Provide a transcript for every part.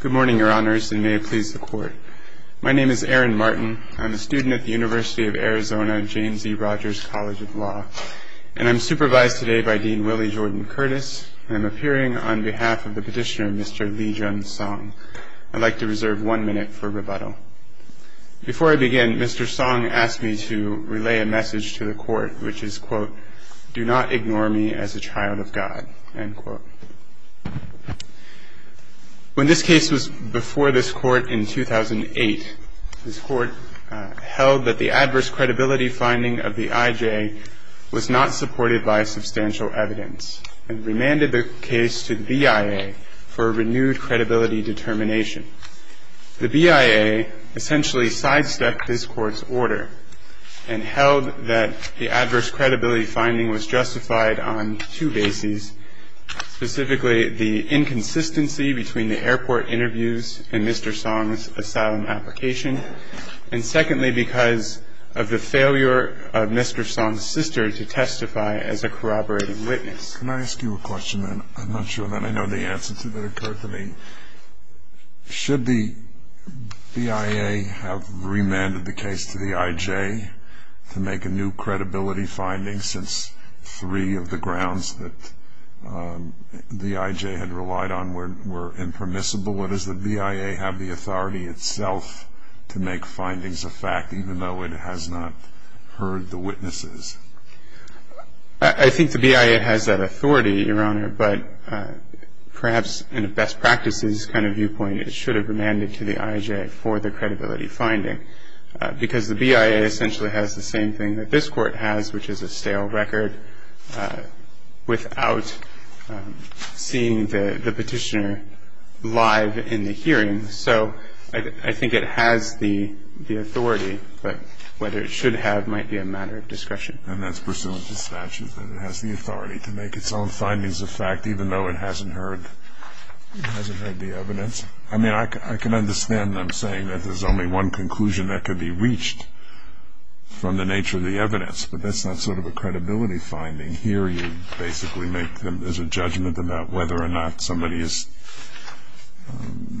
Good morning, your honors, and may it please the court. My name is Aaron Martin. I'm a student at the University of Arizona James E. Rogers College of Law, and I'm supervised today by Dean Willie Jordan Curtis. I'm appearing on behalf of the petitioner, Mr. Lee Jun Song. I'd like to reserve one minute for rebuttal. Before I begin, Mr. Song asked me to relay a message to the court, which is, quote, do not ignore me as a child of God, end quote. When this case was before this court in 2008, this court held that the adverse credibility finding of the IJ was not supported by substantial evidence and remanded the case to the BIA for a renewed credibility determination. The BIA essentially sidestepped this court's order and held that the adverse credibility finding was justified on two bases, specifically the inconsistency between the airport interviews and Mr. Song's asylum application, and secondly, because of the failure of Mr. Song's sister to testify as a corroborating witness. Can I ask you a question? I'm not sure that I know the answer to that occurred to me. Should the BIA have remanded the case to the IJ to make a new credibility finding since three of the grounds that the IJ had relied on were impermissible, or does the BIA have the authority itself to make findings of fact even though it has not heard the witnesses? I think the BIA has that authority, Your Honor, but perhaps in a best practices kind of viewpoint, it should have remanded to the IJ for the credibility finding because the BIA essentially has the same thing that this court has, which is a stale record without seeing the petitioner live in the hearing. I think it has the authority, but whether it should have might be a matter of discretion. And that's pursuant to statute, that it has the authority to make its own findings of fact even though it hasn't heard the evidence. I mean, I can understand them saying that there's only one conclusion that could be reached from the nature of the evidence, but that's not sort of a credibility finding. Here you basically make them as a judgment about whether or not somebody is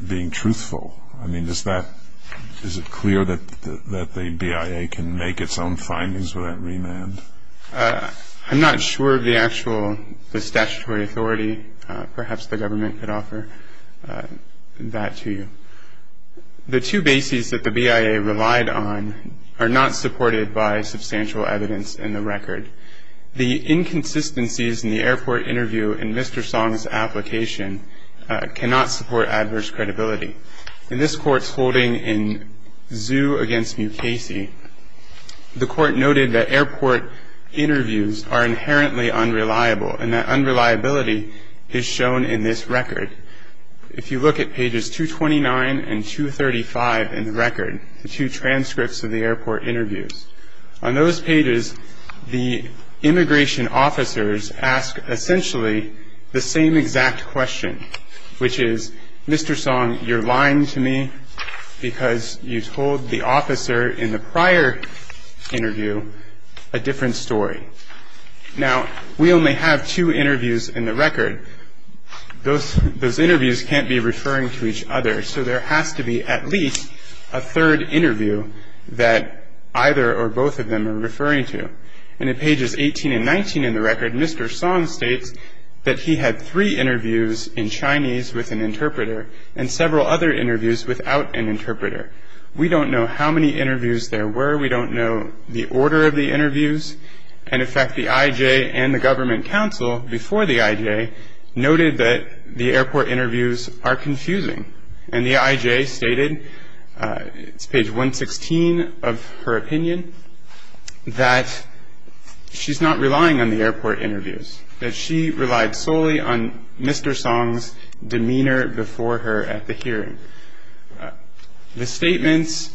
being truthful. I mean, is it clear that the BIA can make its own findings without remand? I'm not sure of the actual statutory authority. Perhaps the government could offer that to you. The two bases that the BIA relied on are not supported by substantial evidence in the record. The inconsistencies in the airport interview in Mr. Song's application cannot support adverse credibility. In this court's holding in Zhu against Mukasey, the court noted that airport interviews are inherently unreliable and that unreliability is shown in this record. If you look at pages 229 and 235 in the record, the two transcripts of the airport interviews, on those pages the immigration officers ask essentially the same exact question, which is, Mr. Song, you're lying to me because you told the officer in the prior interview a different story. Now, we only have two interviews in the record. Those interviews can't be referring to each other, so there has to be at least a third interview that either or both of them are referring to. And in pages 18 and 19 in the record, Mr. Song states that he had three interviews in Chinese with an interpreter and several other interviews without an interpreter. We don't know how many interviews there were. We don't know the order of the interviews. And in fact, the IJ and the government council before the IJ noted that the airport interviews are confusing and the IJ stated, it's page 116 of her opinion, that she's not relying on the airport interviews, that she relied solely on Mr. Song's demeanor before her at the hearing. The statements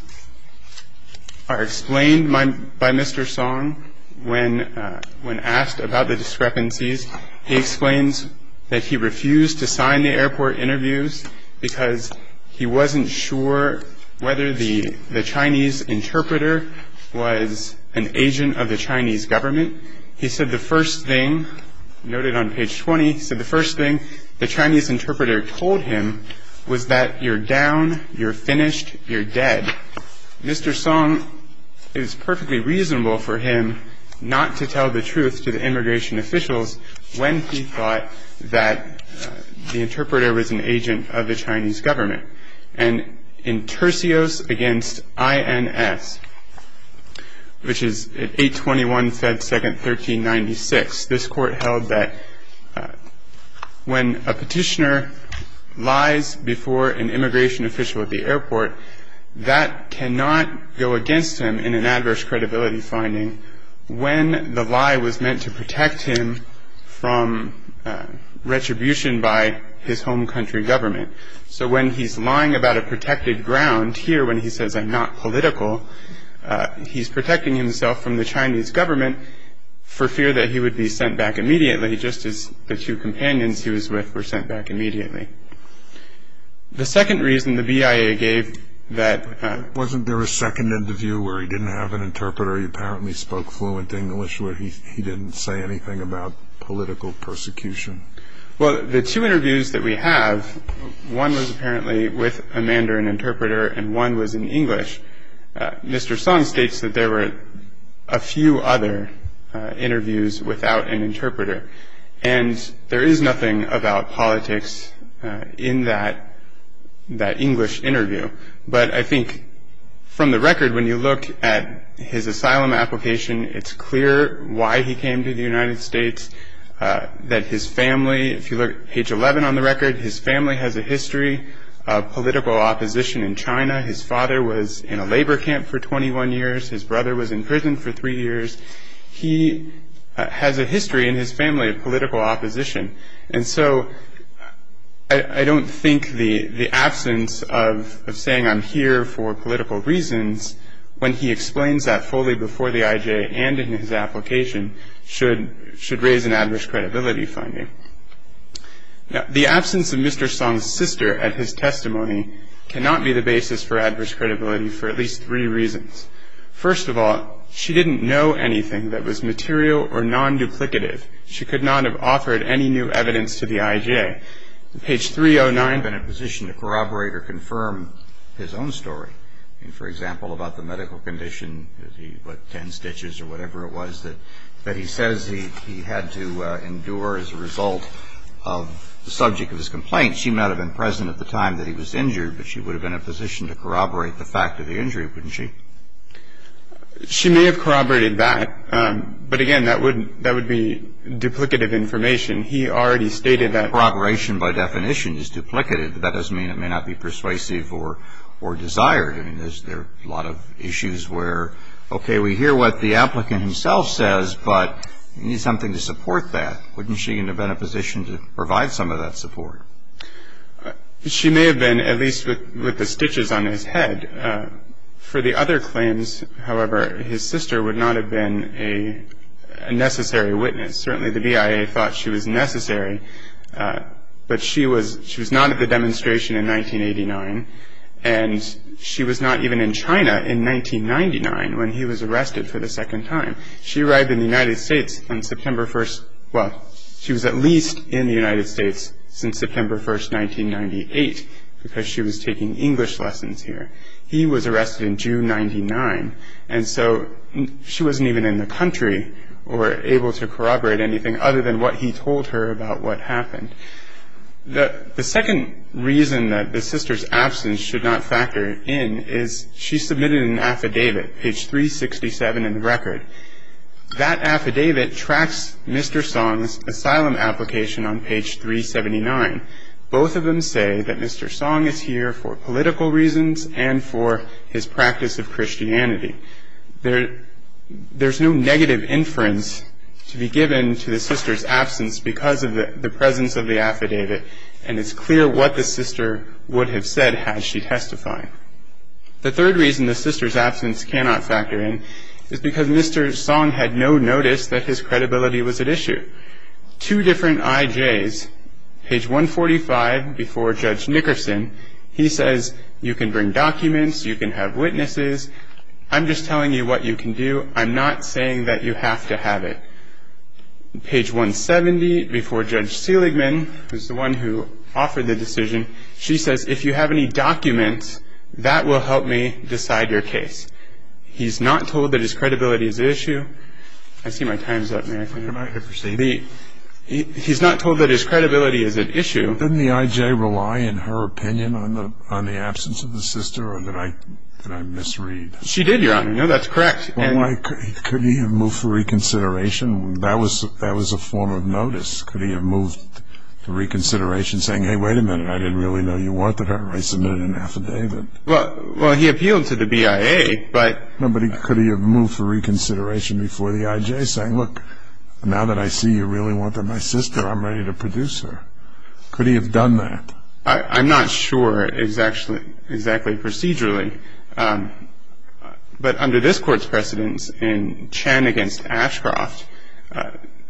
are explained by Mr. Song when asked about the discrepancies. He explains that he refused to sign the airport interviews because he wasn't sure whether the Chinese interpreter was an agent of the Chinese government. He said the first thing, noted on page 20, said the first thing the Chinese interpreter told him was that you're down, you're finished, you're dead. Mr. Song, it is perfectly reasonable for him not to tell the truth to the immigration officials when he thought that the interpreter was an agent of the Chinese government. And in tercios against INS, which is 821 Fed Second 1396, this court held that when a petitioner lies before an immigration official at the airport, that cannot go against him in an adverse credibility finding when the lie was meant to protect him from retribution by his home country government. So when he's lying about a protected ground, here when he says I'm not political, he's protecting himself from the Chinese government for fear that he would be sent back immediately, just as the two companions he was with were sent back immediately. The second reason the BIA gave that... He spoke fluent English where he didn't say anything about political persecution. Well, the two interviews that we have, one was apparently with a Mandarin interpreter and one was in English. Mr. Song states that there were a few other interviews without an interpreter. And there is nothing about politics in that English interview. But I think from the record, when you look at his asylum application, it's clear why he came to the United States. That his family, if you look at page 11 on the record, his family has a history of political opposition in China. His father was in a labor camp for 21 years. His brother was in prison for three years. He has a history in his family of political opposition. And so I don't think the absence of saying I'm here for political reasons, when he explains that fully before the IJ and in his application, should raise an adverse credibility finding. The absence of Mr. Song's sister at his testimony cannot be the basis for adverse credibility for at least three reasons. First of all, she didn't know anything that was material or non-duplicative. She could not have offered any new evidence to the IJ. He would have been in a position to corroborate or confirm his own story. For example, about the medical condition, what, 10 stitches or whatever it was, that he says he had to endure as a result of the subject of his complaint. She might have been present at the time that he was injured, but she would have been in a position to corroborate the fact of the injury, wouldn't she? She may have corroborated that. But again, that would be duplicative information. He already stated that corroboration by definition is duplicative. That doesn't mean it may not be persuasive or desired. I mean, there's a lot of issues where, okay, we hear what the applicant himself says, but we need something to support that. Wouldn't she have been in a position to provide some of that support? She may have been, at least with the stitches on his head. For the other claims, however, his sister would not have been a necessary witness. Certainly the BIA thought she was necessary, but she was not at the demonstration in 1989, and she was not even in China in 1999 when he was arrested for the second time. She arrived in the United States on September 1st. Well, she was at least in the United States since September 1st, 1998, because she was taking English lessons here. He was arrested in June 1999, and so she wasn't even in the country or able to corroborate anything other than what he told her about what happened. The second reason that the sister's absence should not factor in is she submitted an affidavit, page 367 in the record. That affidavit tracks Mr. Song's asylum application on page 379. Both of them say that Mr. Song is here for political reasons and for his practice of Christianity. There's no negative inference to be given to the sister's absence because of the presence of the affidavit, and it's clear what the sister would have said had she testified. The third reason the sister's absence cannot factor in is because Mr. Song had no notice that his credibility was at issue. Two different IJs. Page 145, before Judge Nickerson, he says, you can bring documents, you can have witnesses, I'm just telling you what you can do. I'm not saying that you have to have it. Page 170, before Judge Seligman, who's the one who offered the decision, she says, if you have any documents, that will help me decide your case. He's not told that his credibility is at issue. I see my time's up. He's not told that his credibility is at issue. Didn't the IJ rely, in her opinion, on the absence of the sister, or did I misread? She did, Your Honor. No, that's correct. Couldn't he have moved for reconsideration? That was a form of notice. Couldn't he have moved for reconsideration, saying, hey, wait a minute, I didn't really know you wanted her. I submitted an affidavit. Well, he appealed to the BIA, but... No, but could he have moved for reconsideration before the IJ, saying, look, now that I see you really want my sister, I'm ready to produce her. Could he have done that? I'm not sure exactly procedurally, but under this Court's precedence in Chan v. Ashcroft,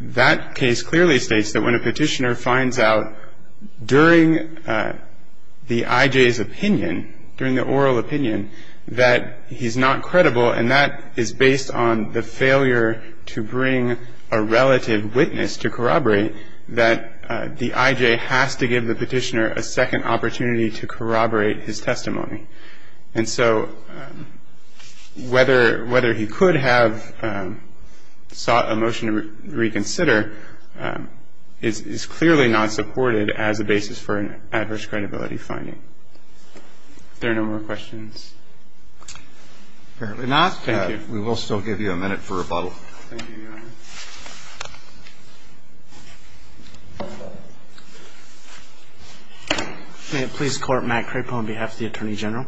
that case clearly states that when a petitioner finds out during the IJ's opinion, during the oral opinion, that he's not credible, and that is based on the failure to bring a relative witness to corroborate, that the IJ has to give the petitioner a second opportunity to corroborate his testimony. And so whether he could have sought a motion to reconsider is clearly not supported as a basis for an adverse credibility finding. Are there no more questions? Apparently not. Thank you. We will still give you a minute for rebuttal. Thank you, Your Honor. May it please the Court. Matt Crapo on behalf of the Attorney General.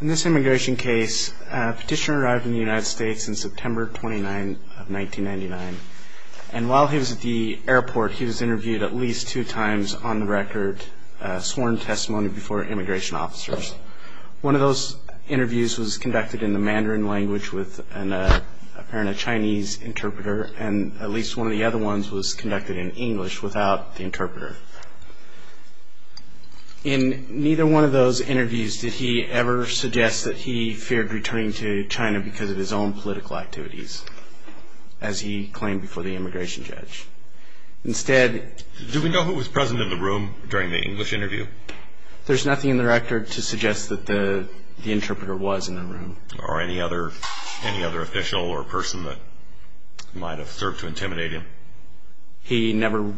In this immigration case, a petitioner arrived in the United States on September 29, 1999, and while he was at the airport, he was interviewed at least two times on the record, sworn testimony before immigration officers. One of those interviews was conducted in the Mandarin language with an apparent Chinese interpreter, and at least one of the other ones was conducted in English without the interpreter. In neither one of those interviews did he ever suggest that he feared returning to China because of his own political activities. As he claimed before the immigration judge. Instead... Do we know who was present in the room during the English interview? There's nothing in the record to suggest that the interpreter was in the room. Or any other official or person that might have served to intimidate him? He never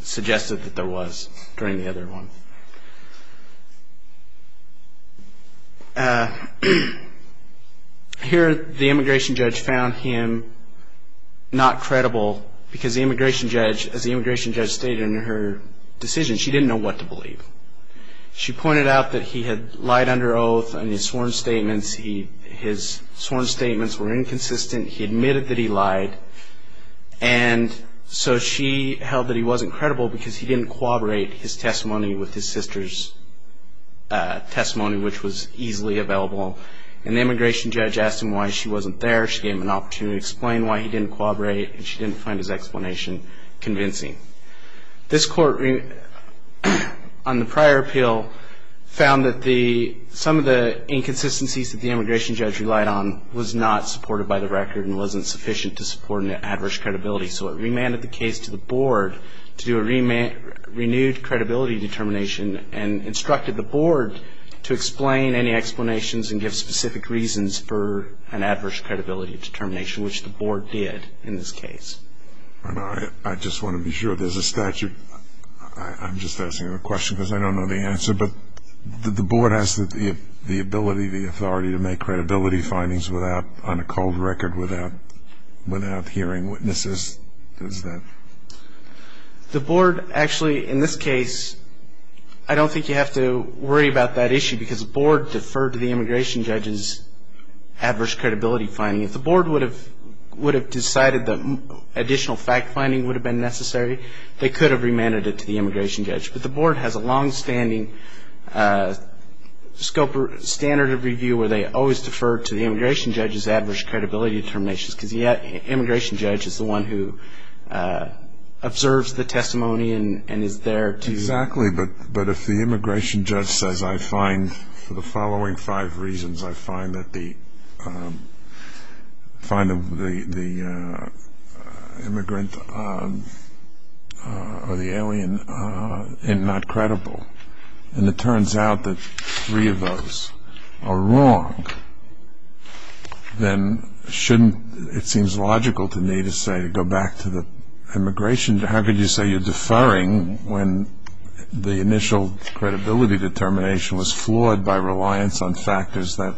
suggested that there was during the other one. Here, the immigration judge found him not credible because the immigration judge, as the immigration judge stated in her decision, she didn't know what to believe. She pointed out that he had lied under oath on his sworn statements. His sworn statements were inconsistent. He admitted that he lied, and so she held that he wasn't credible because he didn't corroborate his testimony with his sister's testimony, which was easily available. And the immigration judge asked him why she wasn't there. She gave him an opportunity to explain why he didn't corroborate, and she didn't find his explanation convincing. This court, on the prior appeal, found that some of the inconsistencies that the immigration judge relied on was not supported by the record and wasn't sufficient to support an adverse credibility. So it remanded the case to the board to do a renewed credibility determination and instructed the board to explain any explanations and give specific reasons for an adverse credibility determination, which the board did in this case. I just want to be sure. There's a statute. I'm just asking a question because I don't know the answer, but the board has the ability, the authority, to make credibility findings on a cold record without hearing witnesses, does that? The board actually, in this case, I don't think you have to worry about that issue because the board deferred to the immigration judge's adverse credibility finding. If the board would have decided that additional fact finding would have been necessary, they could have remanded it to the immigration judge. But the board has a longstanding standard of review where they always defer to the immigration judge's adverse credibility determinations because the immigration judge is the one who observes the testimony and is there to... Exactly, but if the immigration judge says, I find for the following five reasons, I find that the immigrant or the alien is not credible and it turns out that three of those are wrong, then it seems logical to me to say to go back to the immigration judge. How could you say you're deferring when the initial credibility determination was floored by reliance on factors that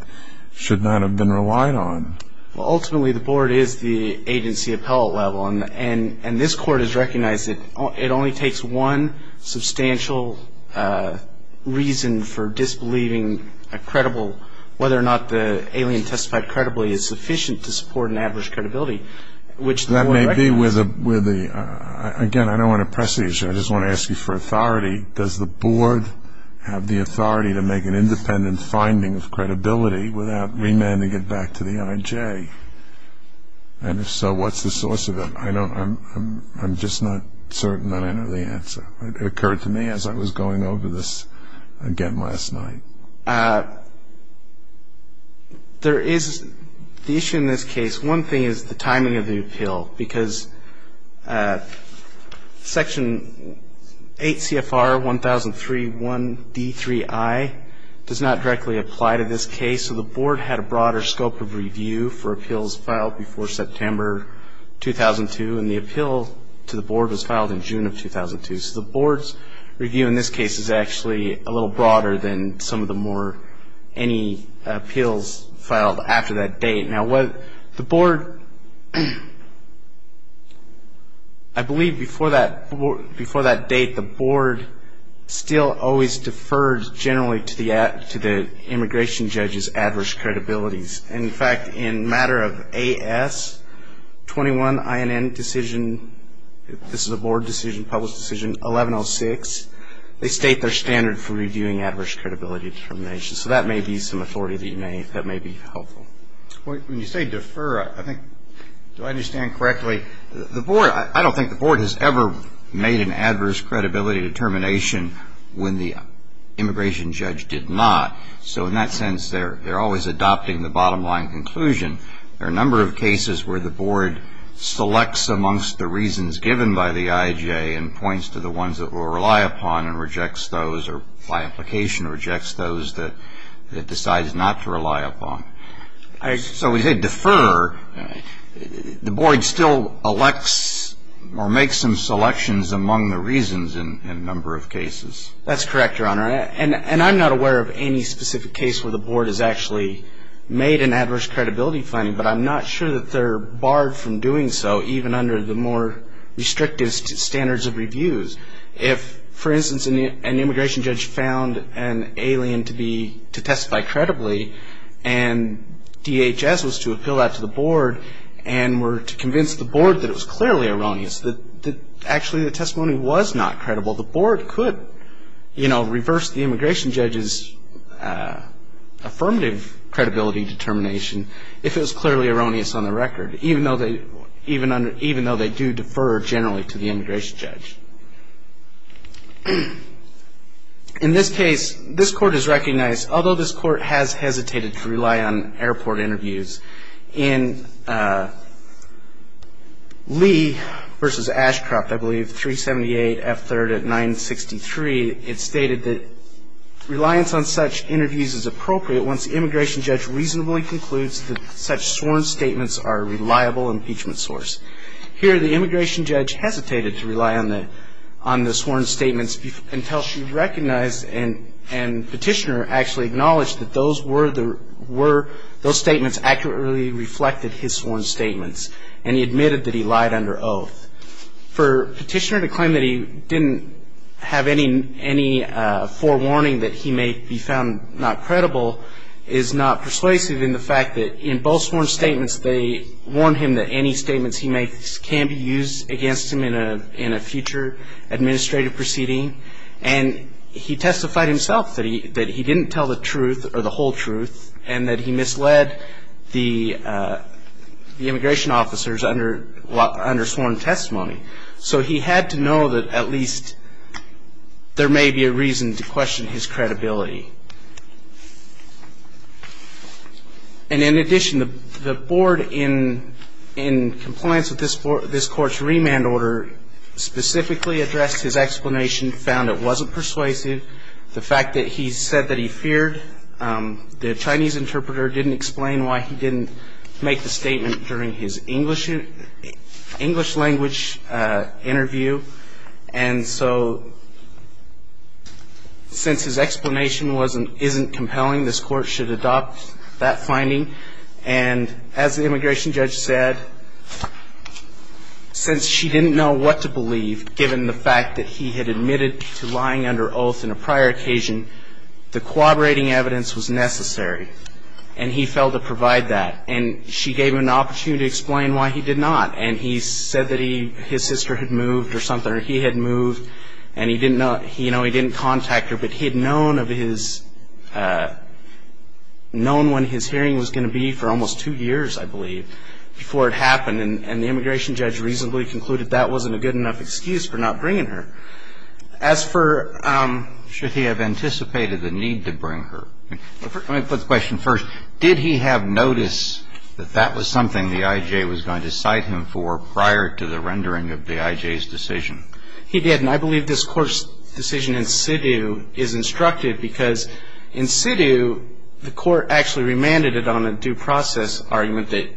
should not have been relied on? Ultimately, the board is the agency appellate level and this court has recognized that it only takes one substantial reason for disbelieving whether or not the alien testified credibly is sufficient to support an adverse credibility, which the board recognizes. That may be where the... Again, I don't want to press the issue. I just want to ask you for authority. Does the board have the authority to make an independent finding of credibility without remanding it back to the IJ? And if so, what's the source of it? I'm just not certain that I know the answer. It occurred to me as I was going over this again last night. There is the issue in this case. One thing is the timing of the appeal because Section 8 CFR 1003 1D3I does not directly apply to this case, so the board had a broader scope of review for appeals filed before September 2002, and the appeal to the board was filed in June of 2002. So the board's review in this case is actually a little broader than some of the more... any appeals filed after that date. Now, the board... I believe before that date, the board still always deferred generally to the immigration judge's adverse credibilities. In fact, in matter of AS 21 INN decision, this is a board decision, public decision 1106, they state their standard for reviewing adverse credibility determinations. So that may be some authority that you may... that may be helpful. When you say defer, I think... do I understand correctly? I don't think the board has ever made an adverse credibility determination when the immigration judge did not. So in that sense, they're always adopting the bottom line conclusion. There are a number of cases where the board selects amongst the reasons given by the IJA and points to the ones that we'll rely upon and rejects those, or by application rejects those that it decides not to rely upon. So when you say defer, the board still elects or makes some selections among the reasons in a number of cases. That's correct, Your Honor. And I'm not aware of any specific case where the board has actually made an adverse credibility finding, but I'm not sure that they're barred from doing so, even under the more restrictive standards of reviews. If, for instance, an immigration judge found an alien to be... to testify credibly and DHS was to appeal that to the board and were to convince the board that it was clearly erroneous, that actually the testimony was not credible, the board could reverse the immigration judge's affirmative credibility determination if it was clearly erroneous on the record, even though they do defer generally to the immigration judge. In this case, this Court has recognized, although this Court has hesitated to rely on airport interviews, in Lee v. Ashcroft, I believe, 378 F. 3rd at 963, it stated that reliance on such interviews is appropriate once the immigration judge reasonably concludes that such sworn statements are a reliable impeachment source. Here, the immigration judge hesitated to rely on the sworn statements until she recognized and Petitioner actually acknowledged that those statements accurately reflected his sworn statements and he admitted that he lied under oath. For Petitioner to claim that he didn't have any forewarning that he may be found not credible is not persuasive in the fact that in both sworn statements, they warn him that any statements he makes can be used against him in a future administrative proceeding and he testified himself that he didn't tell the truth or the whole truth and that he misled the immigration officers under sworn testimony. So he had to know that at least there may be a reason to question his credibility. And in addition, the board in compliance with this court's remand order specifically addressed his explanation, found it wasn't persuasive, the fact that he said that he feared the Chinese interpreter didn't explain why he didn't make the statement during his English language interview and so since his explanation isn't compelling, this court should adopt that finding and as the immigration judge said, since she didn't know what to believe given the fact that he had admitted to lying under oath in a prior occasion, the corroborating evidence was necessary and he failed to provide that and she gave him an opportunity to explain why he did not and he said that his sister had moved or something or he had moved and he didn't contact her but he had known when his hearing was going to be for almost two years, I believe, before it happened and the immigration judge reasonably concluded that wasn't a good enough excuse for not bringing her. As for should he have anticipated the need to bring her, let me put the question first. Did he have notice that that was something the IJ was going to cite him for prior to the rendering of the IJ's decision? He did and I believe this court's decision in situ is instructed because in situ the court actually remanded it on a due process argument that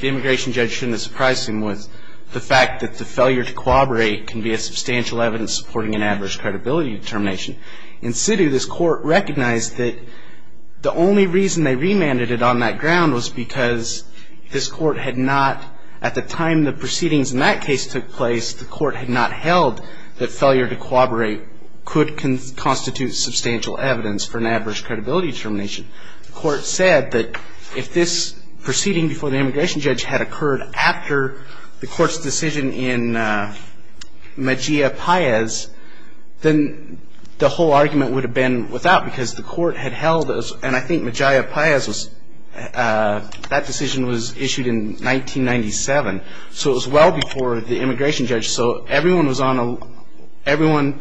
the immigration judge shouldn't have surprised him with the fact that the failure to corroborate can be a substantial evidence supporting an adverse credibility determination. In situ this court recognized that the only reason they remanded it on that ground was because this court had not, at the time the proceedings in that case took place, the court had not held that failure to corroborate could constitute substantial evidence for an adverse credibility determination. The court said that if this proceeding before the immigration judge had occurred after the court's decision in Mejia-Payez, then the whole argument would have been without because the court had held, and I think Mejia-Payez was, that decision was issued in 1997. So it was well before the immigration judge. So everyone was on a, everyone,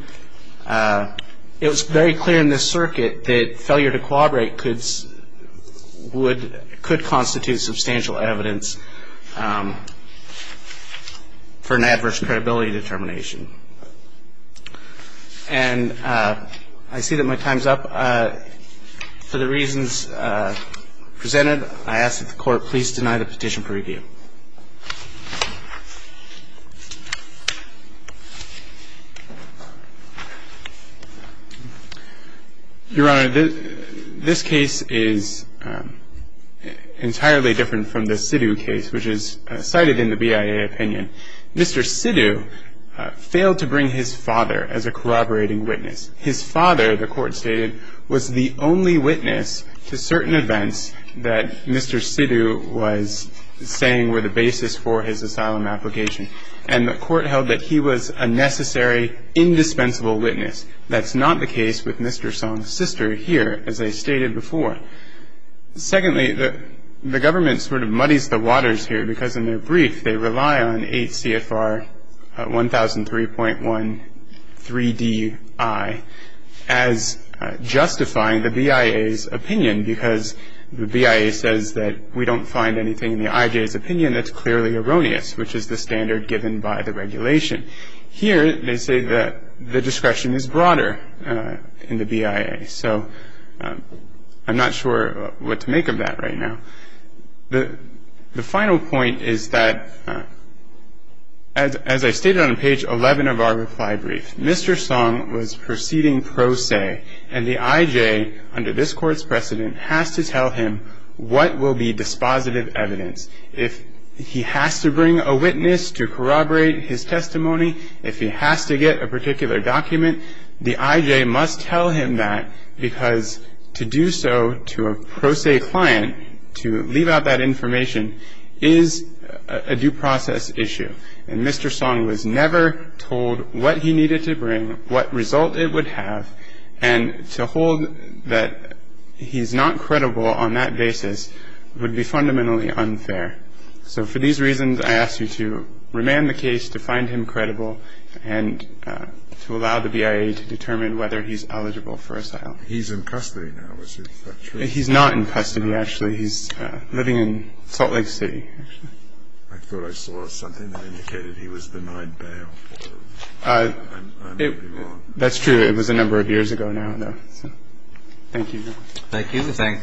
it was very clear in this circuit that failure to corroborate could constitute substantial evidence for an adverse credibility determination. And I see that my time's up. For the reasons presented, I ask that the Court please deny the petition for review. Your Honor, this case is entirely different from the Sidhu case, which is cited in the BIA opinion. Mr. Sidhu failed to bring his father as a corroborating witness. His father, the court stated, was the only witness to certain events that Mr. Sidhu was saying were the basis for his asylum application. And the court held that he was a necessary, indispensable witness. That's not the case with Mr. Song's sister here, as I stated before. Secondly, the government sort of muddies the waters here because in their brief, they rely on 8 CFR 1003.13DI as justifying the BIA's opinion because the BIA says that we don't find anything in the IJ's opinion that's clearly erroneous, which is the standard given by the regulation. Here, they say that the discretion is broader in the BIA. So I'm not sure what to make of that right now. The final point is that, as I stated on page 11 of our reply brief, Mr. Song was proceeding pro se, and the IJ, under this court's precedent, has to tell him what will be dispositive evidence. If he has to bring a witness to corroborate his testimony, if he has to get a particular document, the IJ must tell him that because to do so to a pro se client, to leave out that information, is a due process issue. And Mr. Song was never told what he needed to bring, what result it would have, and to hold that he's not credible on that basis would be fundamentally unfair. So for these reasons, I ask you to remand the case, to find him credible, and to allow the BIA to determine whether he's eligible for asylum. He's in custody now, is that true? He's not in custody, actually. He's living in Salt Lake City. I thought I saw something that indicated he was denied bail. I may be wrong. That's true. It was a number of years ago now, though. Thank you. Thank you. We thank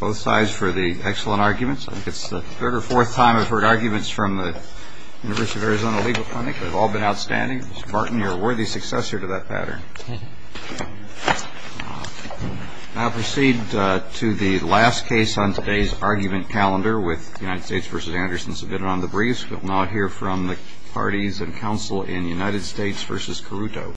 both sides for the excellent arguments. I think it's the third or fourth time I've heard arguments from the University of Arizona Legal Clinic. They've all been outstanding. Mr. Martin, you're a worthy successor to that pattern. Thank you. I'll proceed to the last case on today's argument calendar with United States v. Anderson submitted on the briefs. We'll now hear from the parties and counsel in United States v. Caruto.